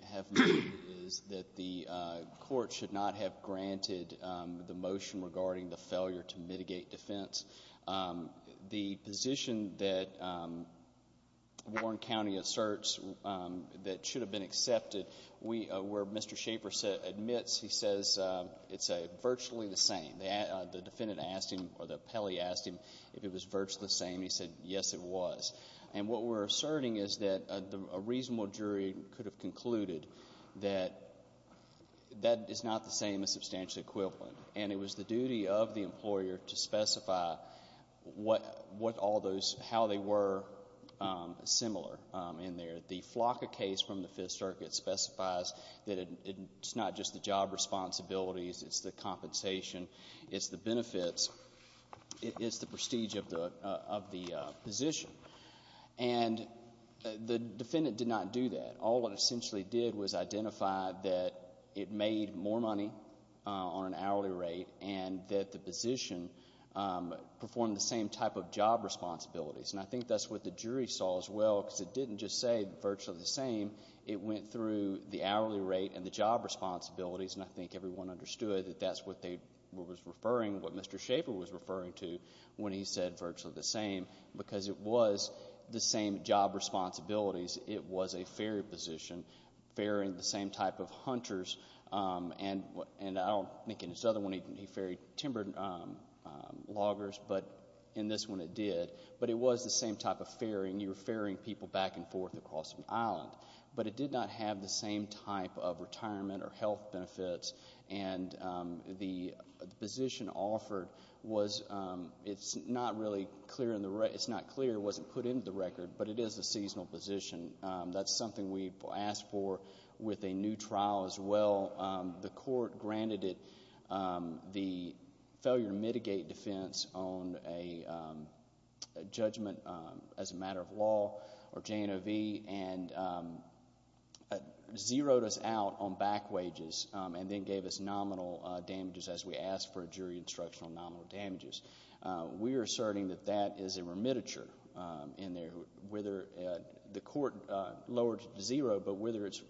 cetera, have made is that the court should not have granted the motion regarding the failure to mitigate defense. The position that Warren County asserts that should have been accepted, where Mr. Schaeffer admits, he says, it's virtually the same. The defendant asked him, or the appellee asked him if it was virtually the same. He said, yes, it was. And what we're asserting is that a reasonable jury could have concluded that that is not the same as substantial equivalent. And it was the duty of the employer to specify what all those, how they were similar in there. The Flocka case from the Fifth Circuit specifies that it's not just the job responsibilities, it's the compensation, it's the benefits, it's the prestige of the position. And the defendant did not do that. All it essentially did was identify that it made more money on an hourly rate and that the position performed the same type of job responsibilities. And I think that's what the jury saw as well, because it didn't just say virtually the same. It went through the hourly rate and the job responsibilities, and I think everyone understood that that's what they were referring, what Mr. Schaffer was referring to when he said virtually the same, because it was the same job responsibilities. It was a ferry position, ferrying the same type of hunters. And I don't think in his other one he ferried timber loggers, but in this one it did. But it was the same type of ferrying. You were ferrying people back and forth across an island. But it did not have the same type of retirement or health benefits. And the position offered was, it's not really clear, it wasn't put into the record, but it is a seasonal position. That's something we asked for with a new trial as well. The court granted it the failure to mitigate defense on a judgment as a matter of law, or J&OV, and zeroed us out on back wages and then gave us nominal damages as we asked for a jury instruction on nominal damages. We are asserting that that is a remittiture. The court lowered it to zero, but whether it's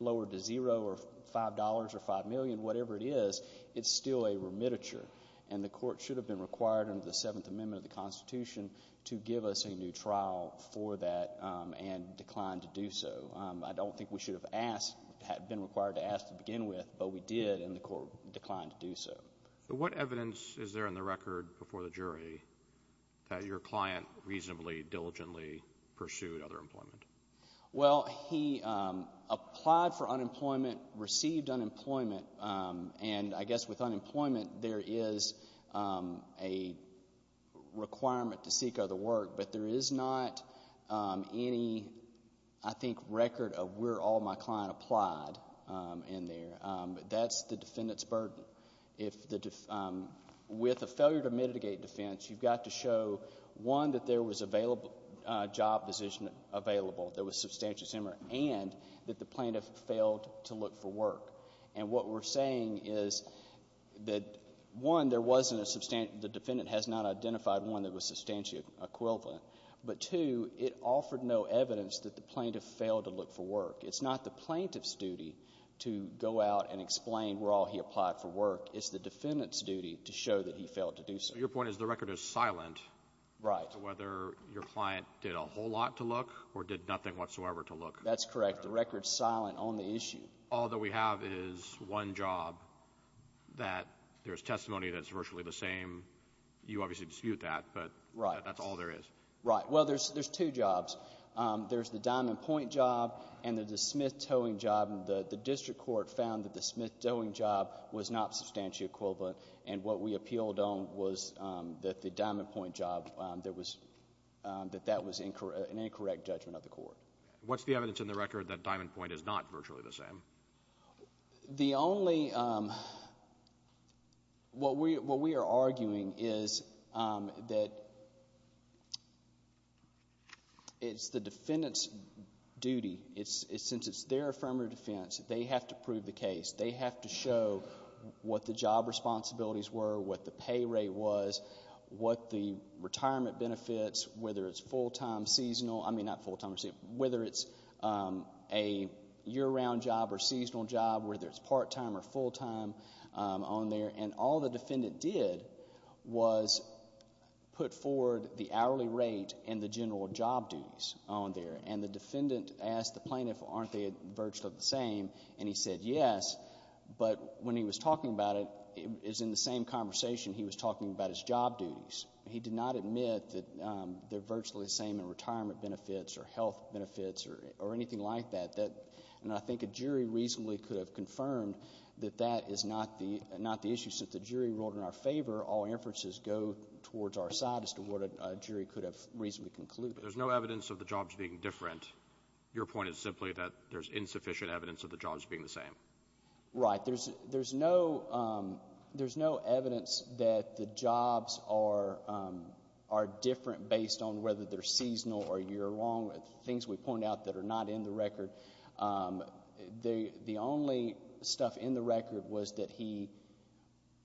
lowered to zero or five dollars or five million, whatever it is, it's still a remittiture. And the court should have been required under the Seventh Amendment of the Constitution to give us a new trial for that and declined to do so. I don't think we should have asked, had been required to ask to begin with, but we did and the court declined to do so. What evidence is there in the record before the jury that your client reasonably, diligently pursued other employment? Well, he applied for unemployment, received unemployment, and I guess with unemployment there is a requirement to seek other work, but there is not any, I think, record of where all my client applied in there. That's the defendant's burden. With a failure to mitigate defense, you've got to show, one, that there was a job position available, there was substantial to look for work. And what we're saying is that, one, the defendant has not identified one that was substantially equivalent, but two, it offered no evidence that the plaintiff failed to look for work. It's not the plaintiff's duty to go out and explain where all he applied for work. It's the defendant's duty to show that he failed to do so. Your point is the record is silent as to whether your client did a whole lot to look or did nothing whatsoever to look. That's correct. The record is silent on the issue. All that we have is one job that there is testimony that is virtually the same. You obviously dispute that, but that's all there is. Right. Well, there's two jobs. There's the diamond point job and the smith towing job. The district court found that the smith towing job was not substantially equivalent, and what we appealed on was that the diamond point job, that that was an incorrect judgment of the court. What's the evidence in the record that diamond point is not virtually the same? The only, what we are arguing is that it's the defendant's duty. Since it's their affirmative defense, they have to prove the case. They have to show what the job responsibilities were, what the pay rate was, what the retirement benefits, whether it's full-time, seasonal, I mean not full-time, whether it's a year-round job or seasonal job, whether it's part-time or full-time on there, and all the defendant did was put forward the hourly rate and the general job duties on there. The defendant asked the plaintiff, aren't they virtually the same, and he said yes, but when he was talking about it, it was in the same conversation he was talking about his job duties. He did not admit that they're virtually the same in retirement benefits or health benefits or anything like that. And I think a jury reasonably could have confirmed that that is not the issue. Since the jury ruled in our favor, all inferences go towards our side as to what a jury could have reasonably concluded. But there's no evidence of the jobs being different. Your point is simply that there's insufficient evidence of the jobs being the same. Right. There's no evidence that the jobs are different based on whether they're seasonal or year-round, things we point out that are not in the record. The only stuff in the record was that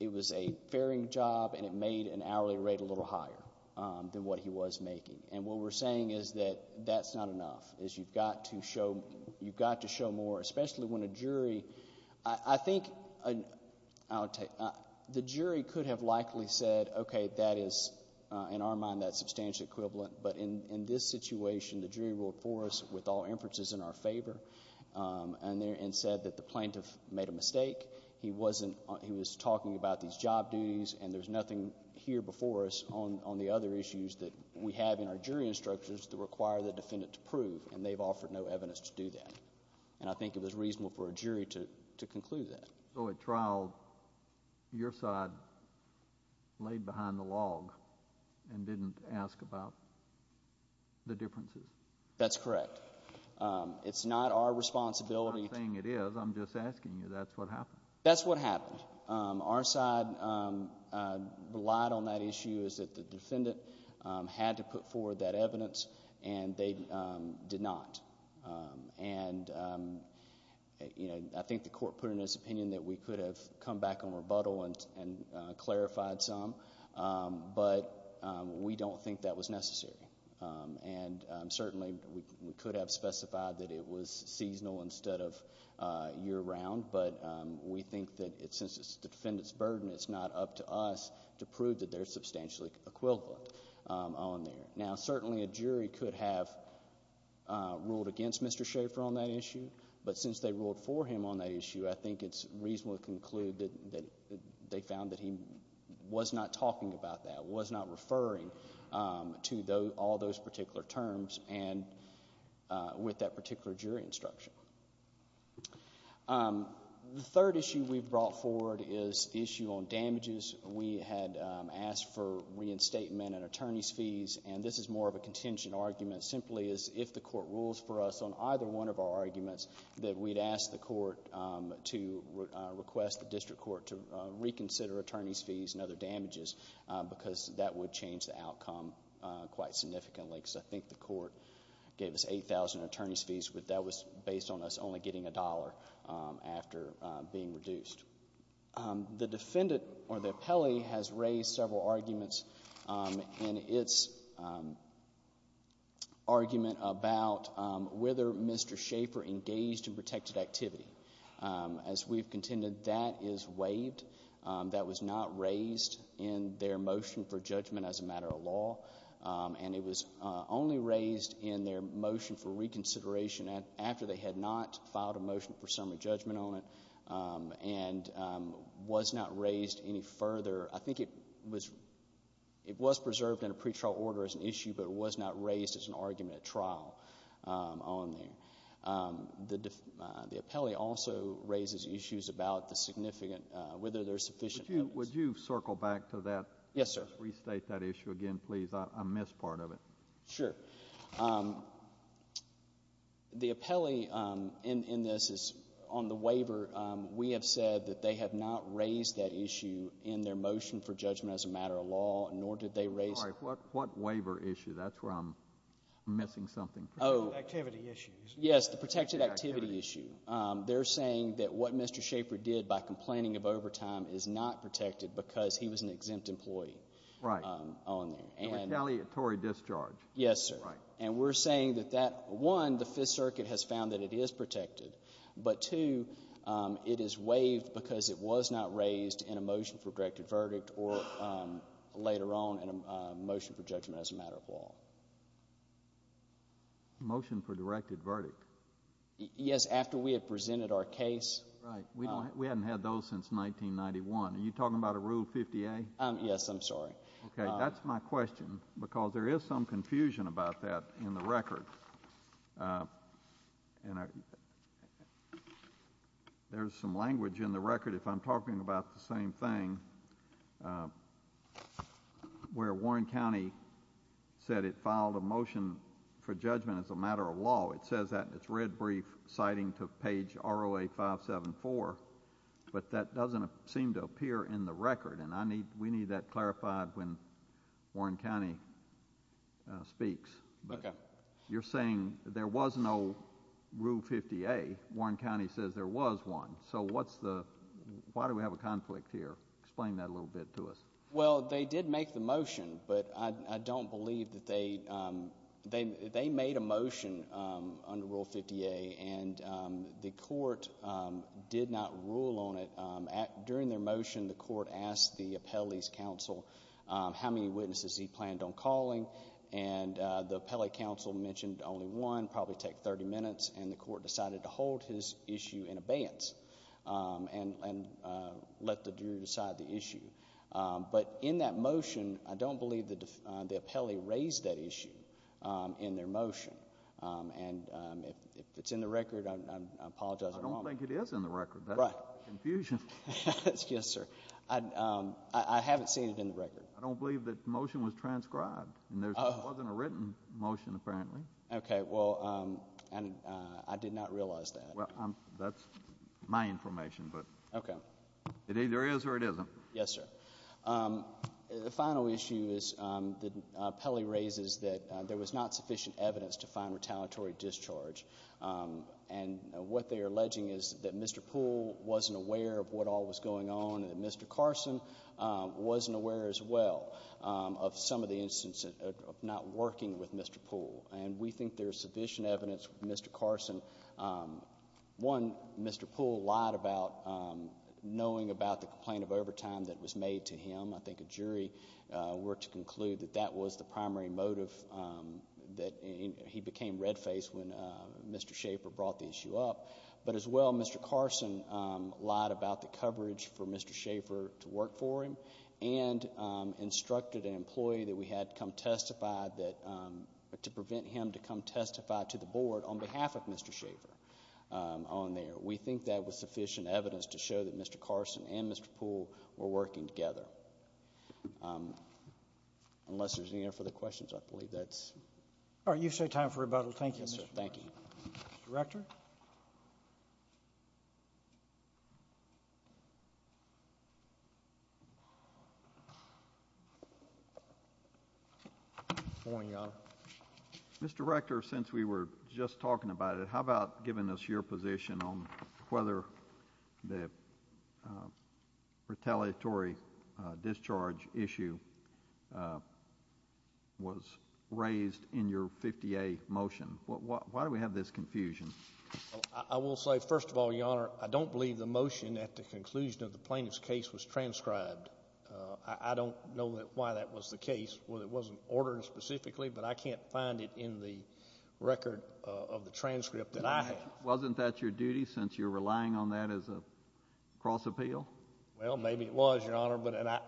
it was a fairing job and it made an hourly rate a little higher than what he was making. And what we're saying is that that's not enough. You've got to show more, especially when a jury... I think the jury could have likely said, okay, that is in our mind that substantial equivalent, but in this situation, the jury ruled for us with all inferences in our favor and said that the plaintiff made a mistake. He was talking about these job duties, and there's nothing here before us on the other issues that we have in our jury instructions that require the defendant to prove, and they've offered no evidence to do that. And I think it was reasonable for a jury to conclude that. So at trial, your side laid behind the log and didn't ask about the differences? That's correct. It's not our responsibility... I'm not saying it is. I'm just asking you. That's what happened. That's what happened. Our side relied on that issue is that the defendant had to put forward that evidence, and they did not. And I think the court put in its opinion that we could have come back on rebuttal and clarified some, but we don't think that was necessary. And certainly, we could have specified that it was seasonal instead of year-round, but we think that since it's the defendant's burden, it's not up to us to prove that they're substantially equivalent on there. Now, certainly, a jury could have ruled against Mr. Schaffer on that issue, but since they ruled for him on that issue, I think it's reasonable to conclude that they found that he was not talking about that, was not referring to all those particular terms and with that particular jury instruction. The third issue we've brought forward is the opinion statement and attorney's fees, and this is more of a contingent argument simply as if the court rules for us on either one of our arguments that we'd ask the court to request the district court to reconsider attorney's fees and other damages because that would change the outcome quite significantly because I think the court gave us 8,000 attorney's fees, but that was based on us only getting a dollar after being reduced. The defendant or the appellee has raised several arguments in its argument about whether Mr. Schaffer engaged in protected activity. As we've contended, that is waived. That was not raised in their motion for judgment as a matter of law, and it was only raised in their motion for reconsideration after they had not filed a motion for summary judgment on it and was not raised any further. I think it was preserved in a pretrial order as an issue, but it was not raised as an argument at trial on there. The appellee also raises issues about whether there's sufficient evidence. Would you circle back to that? Yes, sir. Restate that issue again, please. I missed part of it. Sure. The appellee in this is on the waiver. We have said that they have not raised that issue in their motion for judgment as a matter of law, nor did they raise it. Sorry. What waiver issue? That's where I'm missing something. Oh. Activity issues. Yes, the protected activity issue. They're saying that what Mr. Schaffer did by complaining of overtime is not protected because he was an exempt employee on there. Right. And retaliatory discharge. Yes, sir. Right. And we're saying that, one, the Fifth Circuit has found that it is protected, but two, it is waived because it was not raised in a motion for directed verdict or later on in a motion for judgment as a matter of law. Motion for directed verdict? Yes, after we had presented our case. Right. We hadn't had those since 1991. Are you talking about a Rule 50A? Yes, I'm sorry. Okay. That's my question, because there is some confusion about that in the record. There's some language in the record, if I'm talking about the same thing, where Warren County said it filed a motion for judgment as a matter of law. It says that in its red brief, citing to page ROA 574, but that doesn't seem to appear in the record, and we need that clarified when Warren County speaks. Okay. But you're saying there was no Rule 50A. Warren County says there was one. So why do we have a conflict here? Explain that a little bit to us. Well, they did make the motion, but I don't believe that they made a motion under Rule 50A, and the court did not rule on it. During their motion, the court asked the appellee's counsel how many witnesses he planned on calling, and the appellee counsel mentioned only one, probably take 30 minutes, and the court decided to hold his issue in abeyance and let the jury decide the issue. But in that motion, I don't believe the appellee raised that issue in their motion, and if it's in the record, I apologize if I'm wrong. I don't think it is in the record. Right. That's a confusion. Yes, sir. I haven't seen it in the record. I don't believe that the motion was transcribed, and there wasn't a written motion, apparently. Okay. Well, I did not realize that. Well, that's my information, but it either is or it isn't. Yes, sir. The final issue is that the appellee raises that there was not sufficient evidence to find retaliatory discharge, and what they are alleging is that Mr. Poole wasn't aware of what all was going on and that Mr. Carson wasn't aware as well of some of the instances of not working with Mr. Poole, and we think there is sufficient evidence with Mr. Carson. One, Mr. Poole lied about knowing about the complaint of overtime that was made to him. I think a jury worked to conclude that that was the primary motive that he became red-faced when Mr. Schaefer brought the issue up. But as well, Mr. Carson lied about the coverage for Mr. Schaefer to work for him and instructed an employee that we had come testify to prevent him to come testify to the board on behalf of Mr. Schaefer on there. We think that was sufficient evidence to show that Mr. Carson and Mr. Poole were working together. Unless there's any other further questions, I believe that's it. All right. You've saved time for rebuttal. Thank you. Good morning, Your Honor. Mr. Rector, since we were just talking about it, how about giving us your position on whether the retaliatory discharge issue was raised in your 50A motion? Why do we have this confusion? I will say, first of all, Your Honor, I don't believe the motion at the conclusion of the plaintiff's case was transcribed. I don't know why that was the case. It wasn't ordered specifically, but I can't find it in the record of the transcript that I have. Wasn't that your duty since you're relying on that as a cross-appeal? Well, maybe it was, Your Honor.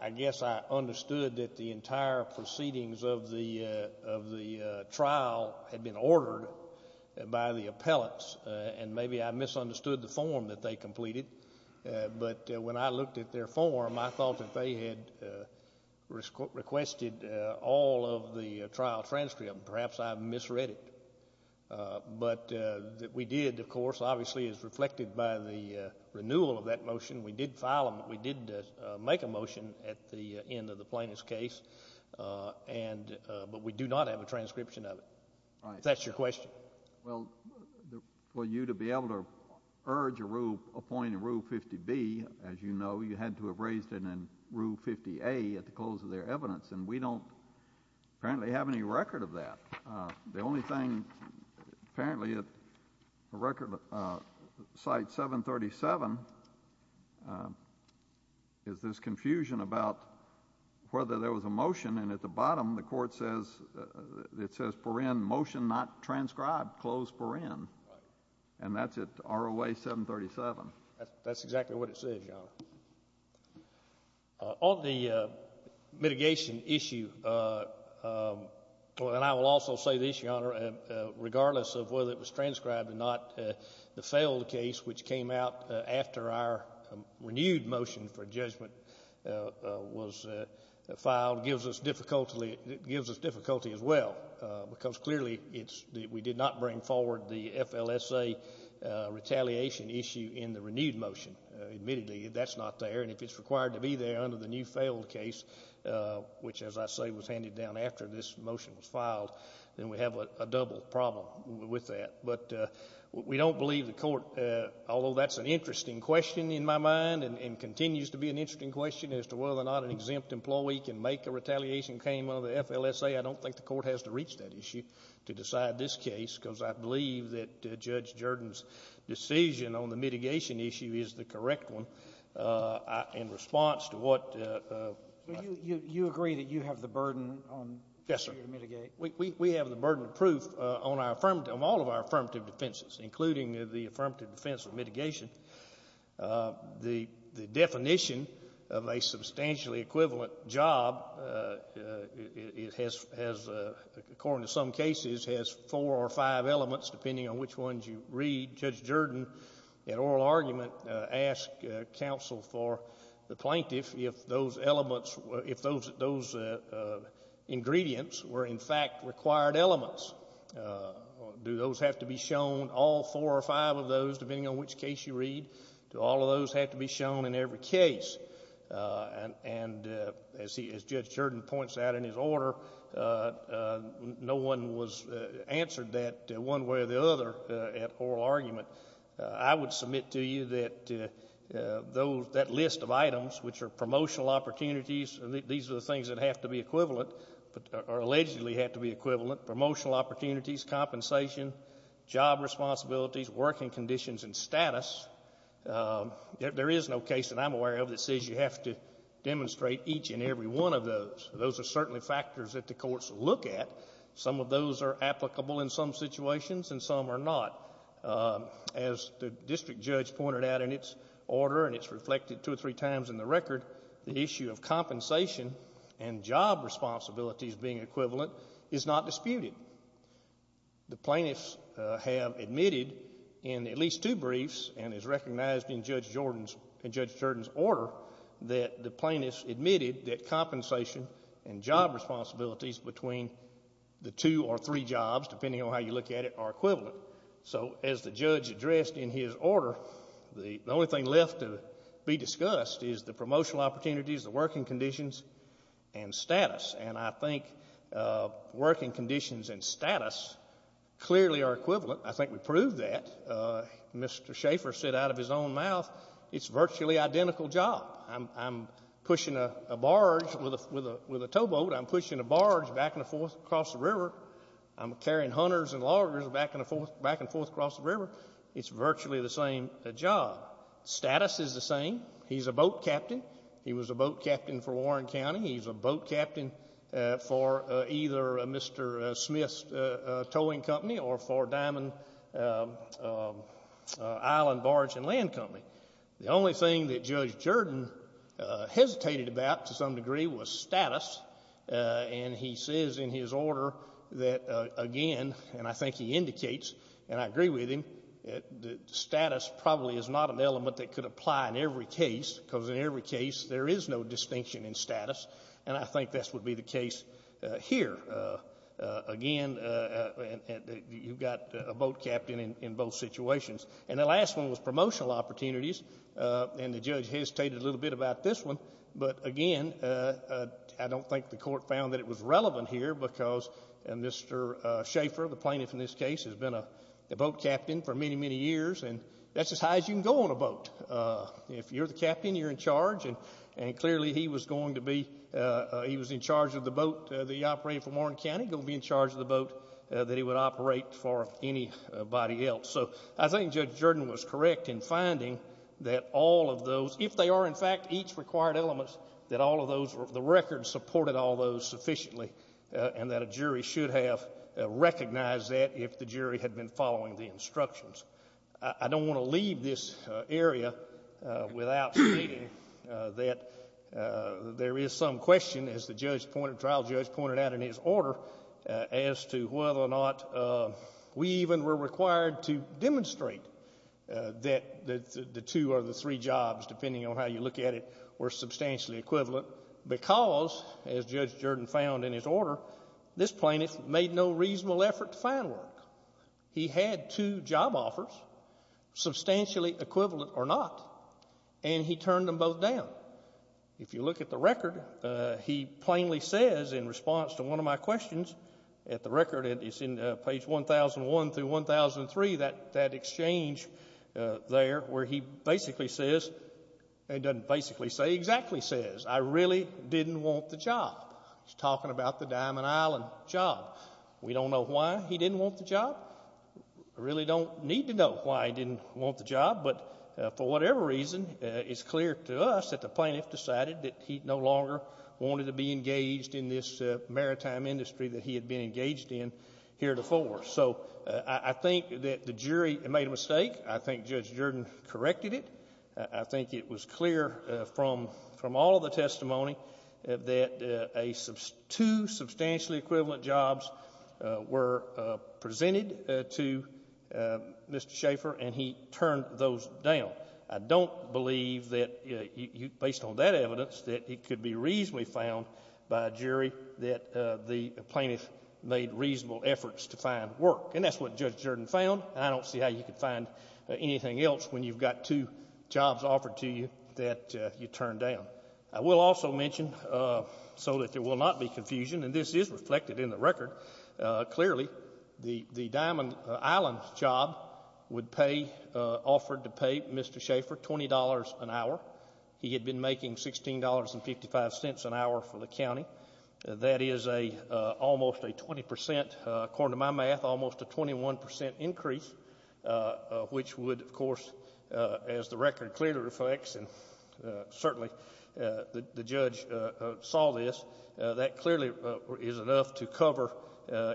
I guess I understood that the entire proceedings of the trial had been reviewed. But when I looked at their form, I thought that they had requested all of the trial transcript. Perhaps I misread it. But we did, of course, obviously, as reflected by the renewal of that motion, we did file them. We did make a motion at the end of the plaintiff's case. But we do not have a transcription of it. If that's your question. Well, for you to be able to urge a rule, appoint a Rule 50B, as you know, you had to have raised it in Rule 50A at the close of their evidence. And we don't, apparently, have any record of that. The only thing, apparently, at the record, Site 737, is this confusion about whether there was a motion. And at the bottom, the Court says, it says, paren, motion not to file. And that's at ROA 737. That's exactly what it says, Your Honor. On the mitigation issue, and I will also say this, Your Honor, regardless of whether it was transcribed or not, the failed case, which came out after our renewed motion for judgment was filed, gives us difficulty as well. Because clearly, we did not bring forward the FLSA. We did not bring forward the retaliation issue in the renewed motion. Admittedly, that's not there. And if it's required to be there under the new failed case, which as I say, was handed down after this motion was filed, then we have a double problem with that. But we don't believe the Court, although that's an interesting question in my mind, and continues to be an interesting question as to whether or not an exempt employee can make a retaliation claim under the FLSA, I don't think the Court has to reach that issue to decide this case. Because I believe that Judge Jordan's decision on the mitigation issue is the correct one in response to what... You agree that you have the burden on... Yes, sir. We have the burden of proof on all of our affirmative defenses, including the affirmative defense of mitigation. The definition of a substantially equivalent job, according to some cases, has four or five elements, depending on which ones you read. Judge Jordan, in oral argument, asked counsel for the plaintiff if those elements, if those ingredients were in fact required elements. Do those have to be shown, all four or five of those, depending on which case you read? Do all of those have to be shown in every case? And as Judge Jordan points out in his order, no one answered that one way or the other at oral argument. I would submit to you that that list of items, which are promotional opportunities, these are the things that have to be equivalent, or allegedly have to be equivalent, promotional opportunities, compensation, job responsibilities, working conditions, and status, there is no case that I'm aware of that says you have to demonstrate each and every one of those. Those are certainly factors that the courts look at. Some of those are applicable in some situations, and some are not. As the district judge pointed out in its order, and it's reflected two or three times in the record, the issue of compensation and job responsibilities being equivalent is not disputed. The plaintiffs have admitted in at least two briefs, and is recognized in Judge Jordan's order, that the plaintiffs admitted that compensation and job responsibilities between the two or three jobs, depending on how you look at it, are equivalent. So as the judge addressed in his order, the only thing left to be discussed is the promotional opportunities, the working conditions, and status. And I think working conditions and status clearly are equivalent. I think we proved that. Mr. Schaffer said out of his own mouth, it's virtually identical job. I'm pushing a barge with a towboat. I'm pushing a barge back and forth across the river. I'm carrying hunters and loggers back and forth across the river. It's virtually the same job. Status is the same. He's a boat captain. He was a boat captain for Warren County. He's a boat captain for either Mr. Smith's towing company or for Diamond Island Barge and Land Company. The only thing that Judge Jordan hesitated about to some degree was status. And he says in his order that, again, and I think he indicates, and I agree with him, that status probably is not an element that could apply in every case, because in every case there is no distinction in status. And I think this would be the case here. Again, you've got a boat captain in both situations. And the last one was promotional opportunities. And the judge hesitated a little bit about this one. But again, I don't think the court found that it was relevant here, because Mr. Schaffer, the plaintiff in this case, has been a boat captain for many, many years. And that's as high as you can go on a boat. If you're the captain, you're in charge. And he was in charge of the boat that he operated for Warren County. He was going to be in charge of the boat that he would operate for anybody else. So I think Judge Jordan was correct in finding that all of those, if they are in fact each required element, that all of those, the record supported all those sufficiently, and that a jury should have recognized that if the jury had been following the instructions. I don't want to leave this area without stating that there is some question, as the trial judge pointed out in his order, as to whether or not we even were required to demonstrate that the two or the three jobs, depending on how you look at it, were substantially equivalent. Because, as Judge Jordan found in his order, this plaintiff made no reasonable effort to find work. He had two job offers, substantially equivalent or not, and he turned them both down. If you look at the record, he plainly says in response to one of my questions at the record, it's in page 1001 through 1003, that exchange there, where he basically says, and doesn't basically say, exactly says, I really didn't want the job. He's talking about the Diamond Island job. We don't know why he didn't want the job. We really don't need to know why he didn't want the job, but for whatever reason, it's clear to us that the plaintiff decided that he no longer wanted to be engaged in this maritime industry that he had been engaged in heretofore. So, I think that the jury made a mistake. I think Judge Jordan corrected it. I think it was clear from all of the testimony that two substantially equivalent jobs were presented to Mr. Schaffer and he turned those down. I don't believe, based on that evidence, that it could be reasonably found by a jury that the plaintiff made reasonable efforts to find work. And that's what Judge Jordan found. I don't see how you could find anything else when you've got two jobs offered to you that you turned down. I will also mention, so that there will not be confusion, and this is reflected in the record, clearly, the Diamond Island job would pay, offered to pay Mr. Schaffer $20 an hour. He had been making $16.55 an hour for the county. That is almost a 20%, according to my math, almost a 21% increase, which would, of course, as the record clearly reflects, and certainly the judge saw this, that clearly is enough to cover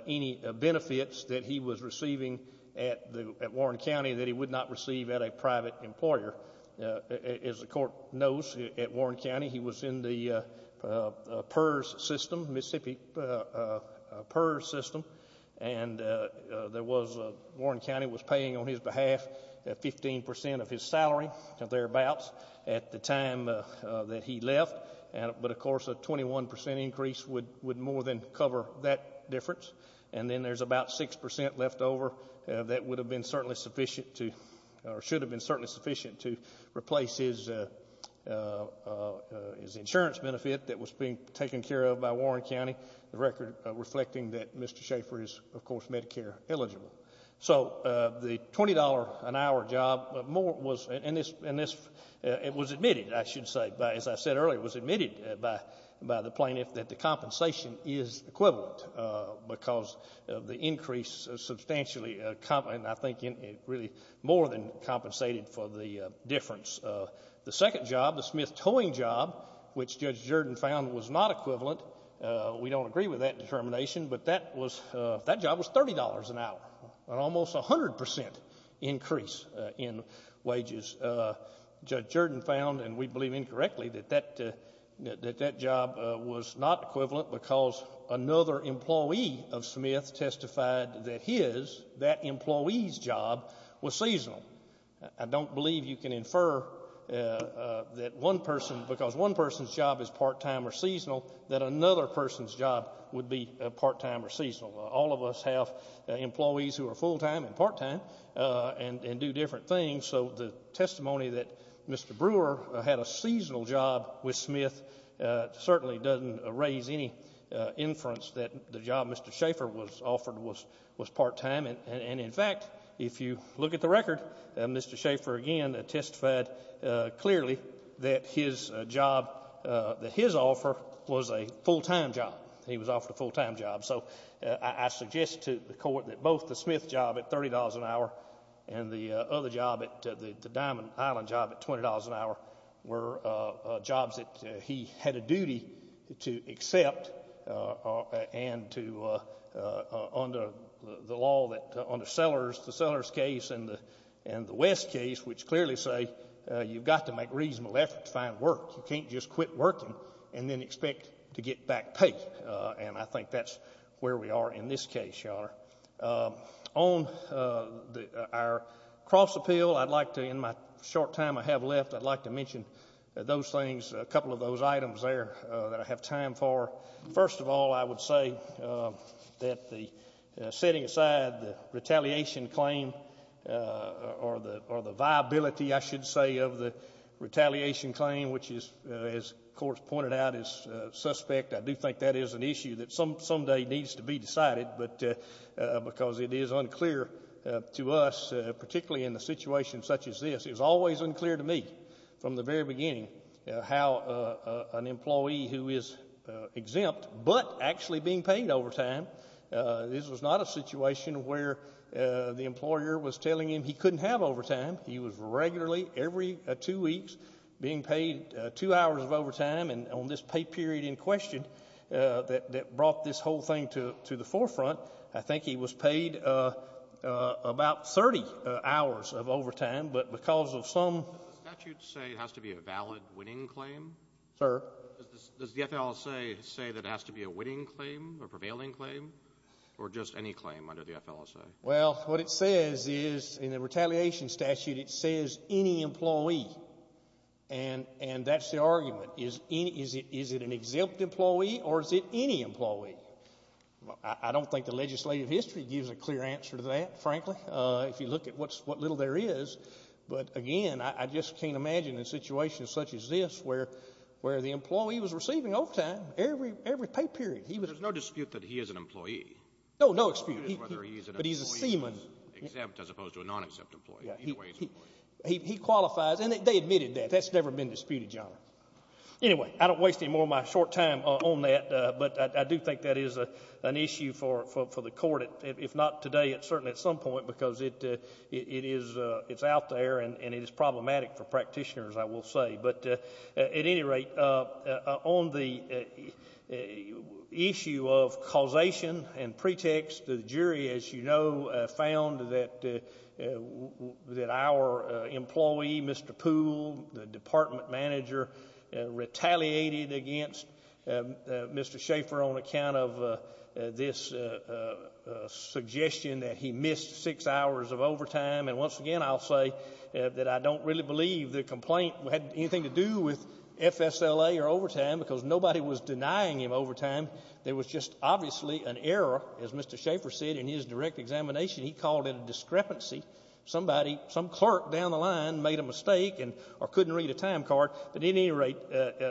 any benefits that he was receiving at Warren County that he would not receive at a private employer. As the court knows, at Warren County, he was in the PERS system, Mississippi PERS system, and Warren County was paying on his behalf 15% of his salary. Thereabouts, at the time that he left. But, of course, a 21% increase would more than cover that difference. And then there's about 6% left over that would have been certainly sufficient to, or should have been certainly sufficient to replace his insurance benefit that was being taken care of by Warren County, the record reflecting that Mr. Schaffer is, of course, Medicare eligible. So the $20 an hour job was admitted, I should say, as I said earlier, was admitted by the plaintiff that the compensation is equivalent because of the increase substantially, and I think really more than compensated for the difference. The second job, the Smith towing job, which Judge Jordan found was not equivalent, we believe that was $30 an hour, an almost 100% increase in wages. Judge Jordan found, and we believe incorrectly, that that job was not equivalent because another employee of Smith testified that his, that employee's job was seasonal. I don't believe you can infer that one person, because one person's job is part-time or seasonal, that another person's job would be part-time or seasonal. All of us have employees who are full-time and part-time and do different things, so the testimony that Mr. Brewer had a seasonal job with Smith certainly doesn't raise any inference that the job Mr. Schaffer was offered was part-time, and in fact, if you look at the record, Mr. Schaffer again testified clearly that his job, that his offer was a full-time job. He was offered a full-time job, so I suggest to the Court that both the Smith job at $30 an hour and the other job, the Diamond Island job at $20 an hour were jobs that he had a duty to accept and to, under the law that, under Sellers, the Sellers case and the West case, which clearly say you've got to make reasonable effort to find work. You can't just quit working and then expect to get back pay, and I think that's where we are in this case, Your Honor. On our cross-appeal, I'd like to, in my short time I have left, I'd like to mention those things, a couple of those items there that I have time for. First of all, I would say that the, setting aside the retaliation claim or the viability, I should say, of the, of the retaliation claim, which is, as the Court has pointed out, is suspect. I do think that is an issue that someday needs to be decided, but, because it is unclear to us, particularly in a situation such as this, it was always unclear to me from the very beginning how an employee who is exempt but actually being paid overtime, this was not a situation where the employer was telling him he couldn't have overtime. He was regularly, every two weeks, being paid two hours of overtime, and on this pay period in question that brought this whole thing to the forefront, I think he was paid about 30 hours of overtime, but because of some... Does the statute say it has to be a valid winning claim? Sir? Does the FLSA say that it has to be a winning claim, a prevailing claim, or just any claim under the FLSA? Well, what it says is, in the retaliation statute, it says any employee, and that's the argument. Is it an exempt employee or is it any employee? I don't think the legislative history gives a clear answer to that, frankly, if you look at what little there is, but again, I just can't imagine a situation such as this, where the employee was receiving overtime every pay period. There's no dispute that he is an employee? No, no dispute. But he's a seaman. Exempt as opposed to a non-exempt employee, either way he's an employee. He qualifies, and they admitted that. That's never been disputed, Your Honor. Anyway, I don't waste any more of my short time on that, but I do think that is an issue for the court, if not today, certainly at some point, because it's out there and it is problematic for practitioners, I will say, but at any rate, on the issue of causation and pretext, the jury, as you know, found that our employee, Mr. Poole, the department manager, retaliated against Mr. Schaefer on account of this suggestion that he missed six hours of overtime, and once again, I'll say that I don't really believe the complaint had anything to do with FSLA or overtime, because nobody was denying him overtime. There was just obviously an error, as Mr. Schaefer said in his direct examination. He called it a discrepancy. Somebody, some clerk down the line made a mistake or couldn't read a time card, but at any rate,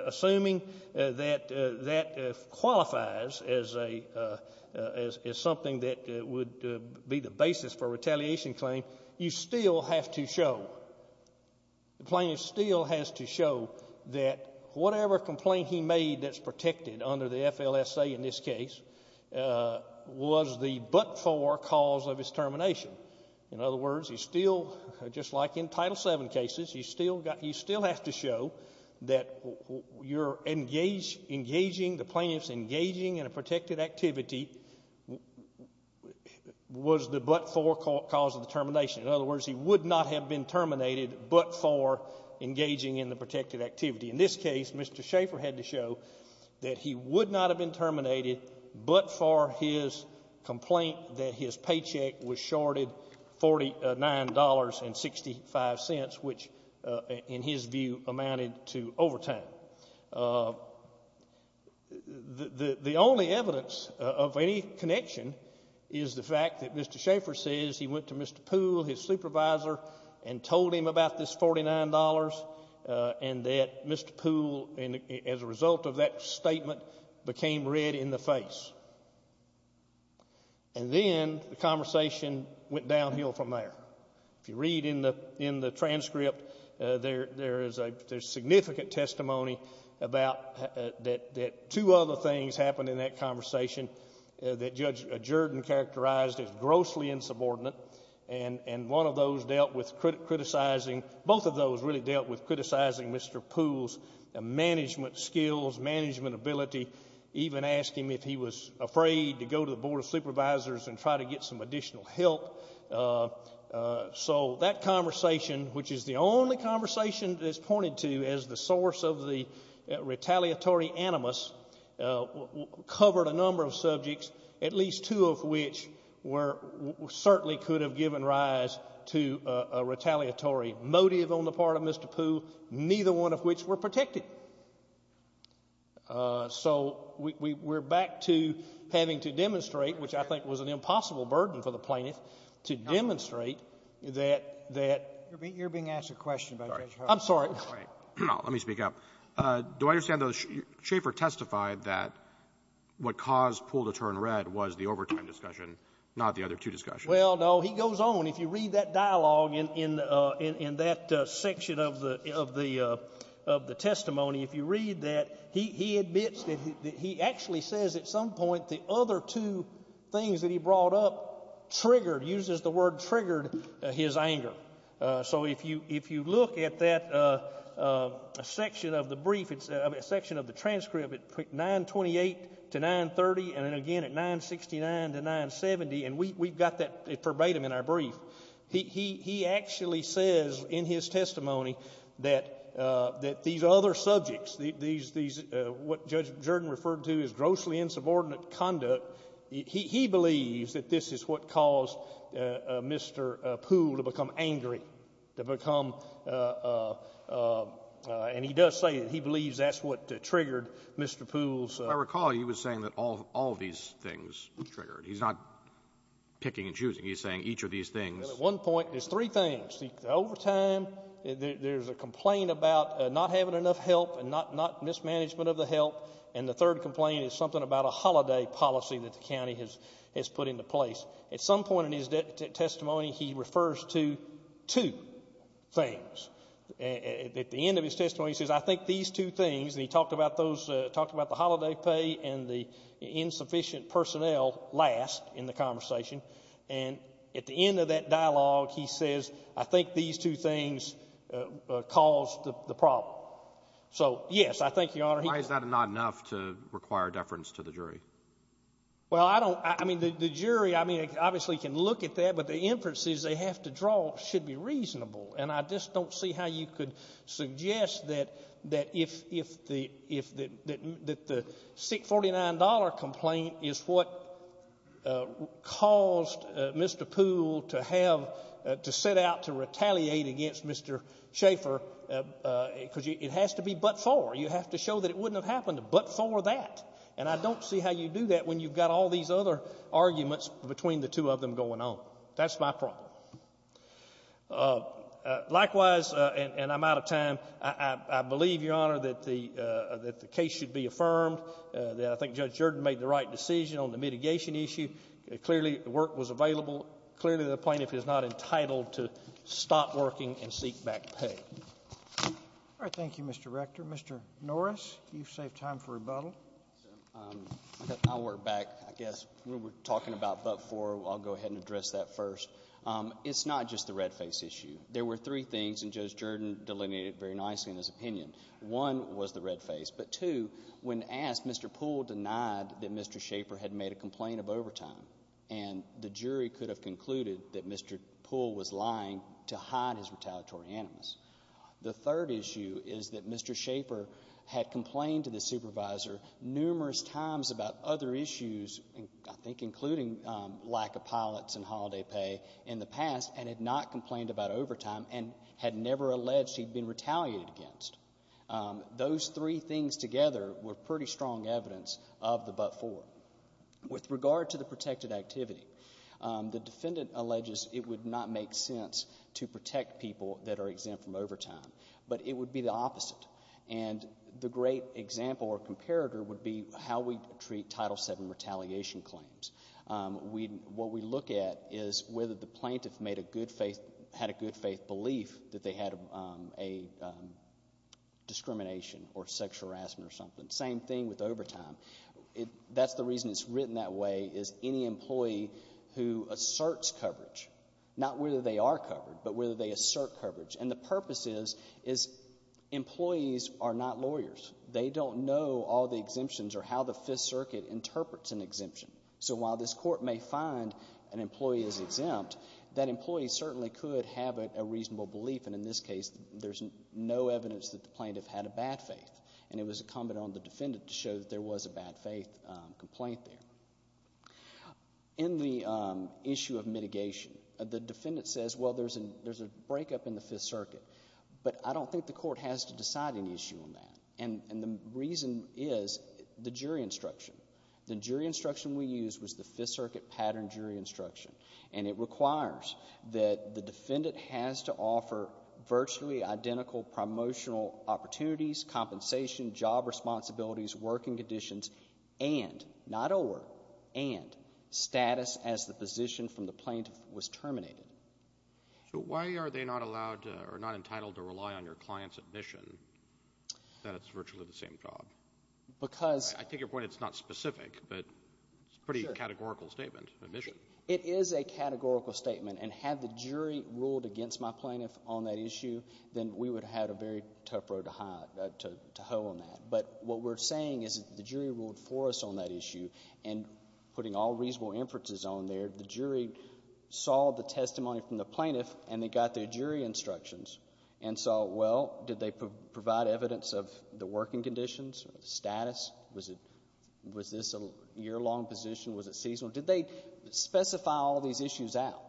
assuming that that qualifies as something that would be the basis for a retaliation claim, you still have to show, the plaintiff still has to show that whatever complaint he made that's protected under the FLSA in this case, was the but-for cause of his termination. In other words, you still, just like in Title VII cases, you still have to show that your engaging, the plaintiff's engaging in a protected activity, was the but-for cause of the termination. In other words, he would not have been terminated but-for engaging in the protected activity. In this case, Mr. Schaefer had to show that he would not have been terminated but-for his complaint that his paycheck was shorted $49.65, which in his view amounted to overtime. The only evidence of any connection is the $49.65 and that Mr. Poole, as a result of that statement, became red in the face. And then the conversation went downhill from there. If you read in the transcript, there is significant testimony about that two other things happened in that conversation that Judge Jordan characterized as grossly insubordinate. And one of those dealt with criticizing, both of those really dealt with criticizing Mr. Poole's management skills, management ability, even asking him if he was afraid to go to the Board of Supervisors and try to get some additional help. So that conversation, which is the only conversation that is pointed to as the source of the retaliatory animus, covered a number of subjects, at least two of which were-certainly could have given rise to a retaliatory motive on the part of Mr. Poole, neither one of which were protected. So we're back to having to demonstrate, which I think was an impossible burden for the plaintiff, to demonstrate that- You're being asked a question by Judge Howard. I'm sorry. Let me speak up. Do I understand that Schaefer testified that what caused Poole to turn red was the overtime discussion, not the other two discussions? Well, no, he goes on. If you read that dialogue in that section of the testimony, if you read that, he admits that he actually says at some point the other two things that he brought up triggered, uses the word triggered, his anger. So if you look at that section of the transcript at 928 to 930 and then again at 969 to 970, and we've got that verbatim in our brief, he actually says in his testimony that these other subjects, what Judge Jordan referred to as grossly insubordinate conduct, he believes that this is what caused Mr. Poole to become angry, to become, and he does say that he believes that's what triggered Mr. Poole's- I recall he was saying that all of these things triggered. He's not picking and choosing. He's saying each of these things- Well, at one point, there's three things. The overtime, there's a complaint about not having enough help and not mismanagement of the help, and the third complaint is something about a holiday policy that the county has put into place. At some point in his testimony, he refers to two things. At the end of his testimony, he says, I think these two things, and he talked about the holiday pay and the insufficient personnel last in the conversation, and at the end of that dialogue, he says, I think these two things caused the problem. So yes, I think, Your Honor, he- Why is that not enough to require deference to the jury? Well, I don't- I mean, the jury, I mean, obviously can look at that, but the inference is they have to draw should be reasonable, and I just don't see how you could suggest that if the $649 complaint is what caused Mr. Poole to have- to set out to retaliate against Mr. Schaeffer, because it has to be but-for. You have to show that it wouldn't have happened but-for that, and I don't see how you do that when you've got all these other arguments between the two of them going on. That's my problem. Likewise, and I'm out of time, I believe, Your Honor, that the case should be affirmed. I think Judge Jordan made the right decision on the mitigation issue. Clearly, work was available. Clearly, the plaintiff is not entitled to stop working and seek back pay. All right. Thank you, Mr. Rector. Mr. Norris, you've saved time for rebuttal. I'll work back. I guess we were talking about but-for. I'll go ahead and address that first. It's not just the red face issue. There were three things, and Judge Jordan delineated very nicely in his opinion. One was the red face, but two, when asked, Mr. Poole denied that Mr. Schaeffer had made a complaint of overtime, and the jury could have concluded that Mr. Poole was lying to hide his retaliatory animus. The third issue is that Mr. Schaeffer had complained to the supervisor numerous times about other issues, I think including lack of pilots and holiday pay in the past, and had not complained about overtime and had never alleged he'd been retaliated against. Those three things together were pretty strong evidence of the but-for. With regard to the protected activity, the defendant alleges it would not make sense to protect people that are exempt from overtime, but it would be the opposite. The great example or comparator would be how we treat Title VII retaliation claims. What we look at is whether the plaintiff had a good faith belief that they had a discrimination or sexual harassment or something. Same thing with overtime. That's the reason it's written that way is any employee who asserts coverage, not whether they are covered, but whether they assert coverage. The purpose is employees are not lawyers. They don't know all the exemptions or how the Fifth Circuit interprets an exemption. While this court may find an employee is exempt, that employee certainly could have a reasonable belief. In this case, there's no evidence that the plaintiff had a bad faith. It was a comment on the defendant to show that there was a bad faith complaint there. In the issue of mitigation, the defendant says, well, there's a breakup in the Fifth Circuit, but I don't think the court has to decide an issue on that, and the reason is the jury instruction. The jury instruction we used was the Fifth Circuit pattern jury instruction, and it requires that the defendant has to offer virtually identical promotional opportunities, compensation, job responsibilities, working conditions, and not or, and status as the position from the plaintiff was terminated. So why are they not allowed or not entitled to rely on your client's admission that it's virtually the same job? Because— I take your point, it's not specific, but it's a pretty categorical statement, admission. It is a categorical statement, and had the jury ruled against my plaintiff on that issue, then we would have had a very tough road to hoe on that. But what we're saying is that the jury ruled for us on that issue, and putting all reasonable inferences on there, the jury saw the testimony from the plaintiff, and they got their jury instructions and saw, well, did they provide evidence of the working conditions, status? Was this a year-long position? Was it seasonal? Did they specify all these issues out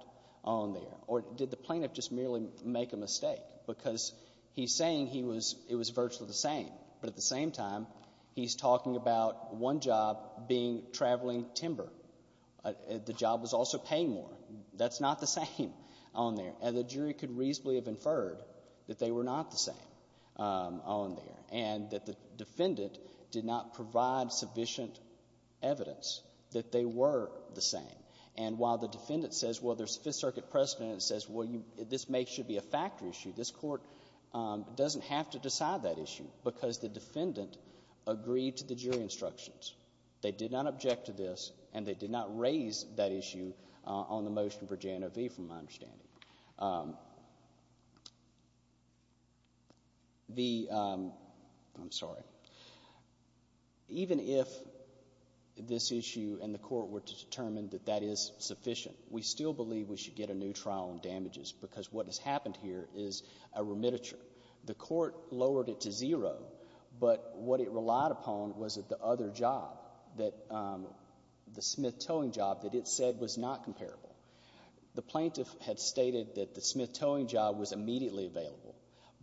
on there, or did the plaintiff just merely make a mistake? Because he's saying he was, it was virtually the same, but at the same time, he's talking about one job being traveling timber. The job was also paying more. That's not the same on there. And the jury could reasonably have inferred that they were not the same on there, and that the defendant did not provide sufficient evidence that they were the same. And while the defendant says, well, there's Fifth Circuit precedent, and says, well, this may should be a factor issue, this court doesn't have to decide that issue, because the defendant agreed to the jury instructions. They did not object to this, and they did not raise that issue on the motion for J&OV, from my understanding. The, I'm sorry, even if this issue and the court were to determine that that is sufficient, we still believe we should get a new trial on damages, because what has happened here is a remititure. The court lowered it to zero, but what it relied upon was that the other job, the smith-towing job that it said was not comparable. The plaintiff had stated that the smith-towing job was immediately available,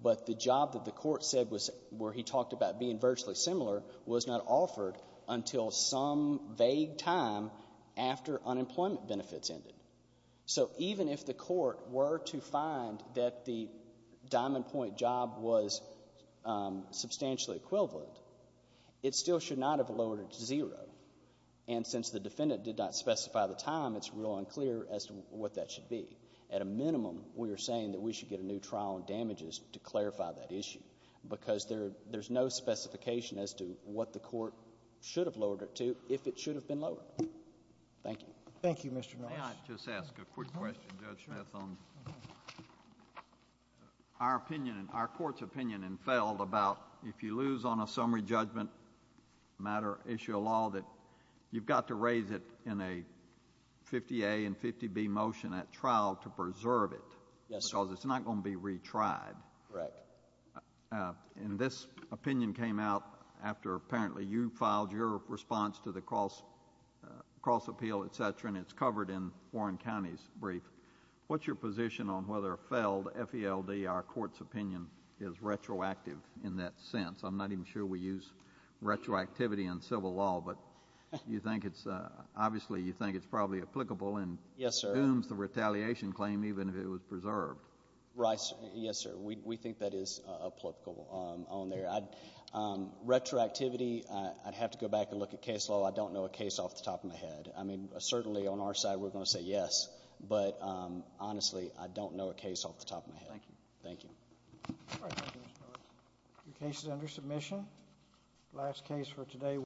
but the job that the court said was, where he talked about being virtually similar, was not offered until some vague time after unemployment benefits ended. So even if the court were to find that the diamond point job was substantially equivalent, it still should not have lowered it to zero. And since the defendant did not specify the time, it's real unclear as to what that should be. At a minimum, we are saying that we should get a new trial on damages to clarify that issue, because there's no specification as to what the court should have lowered it to if it should have been lowered. Thank you. Thank you, Mr. Norris. May I just ask a quick question, Judge Smith, on our opinion, our court's opinion in Feld, about if you lose on a summary judgment matter, issue a law, that you've got to raise it in a 50A and 50B motion at trial to preserve it. Yes, sir. Because it's not going to be retried. Correct. And this opinion came out after apparently you filed your response to the cross appeal, et cetera, and it's covered in Warren County's brief. What's your position on whether Feld, F-E-L-D, our court's opinion, is retroactive in that sense? I'm not even sure we use retroactivity in civil law, but obviously you think it's probably applicable and dooms the retaliation claim even if it was preserved. Right. Yes, sir. We think that is applicable on there. Retroactivity, I'd have to go back and look at case law. I don't know a case off the top of my head. I mean, certainly on our side we're going to say yes, but honestly, I don't know a case off the top of my head. Thank you. Thank you. All right. Thank you, Mr. Phillips. Your case is under submission. Last case for today.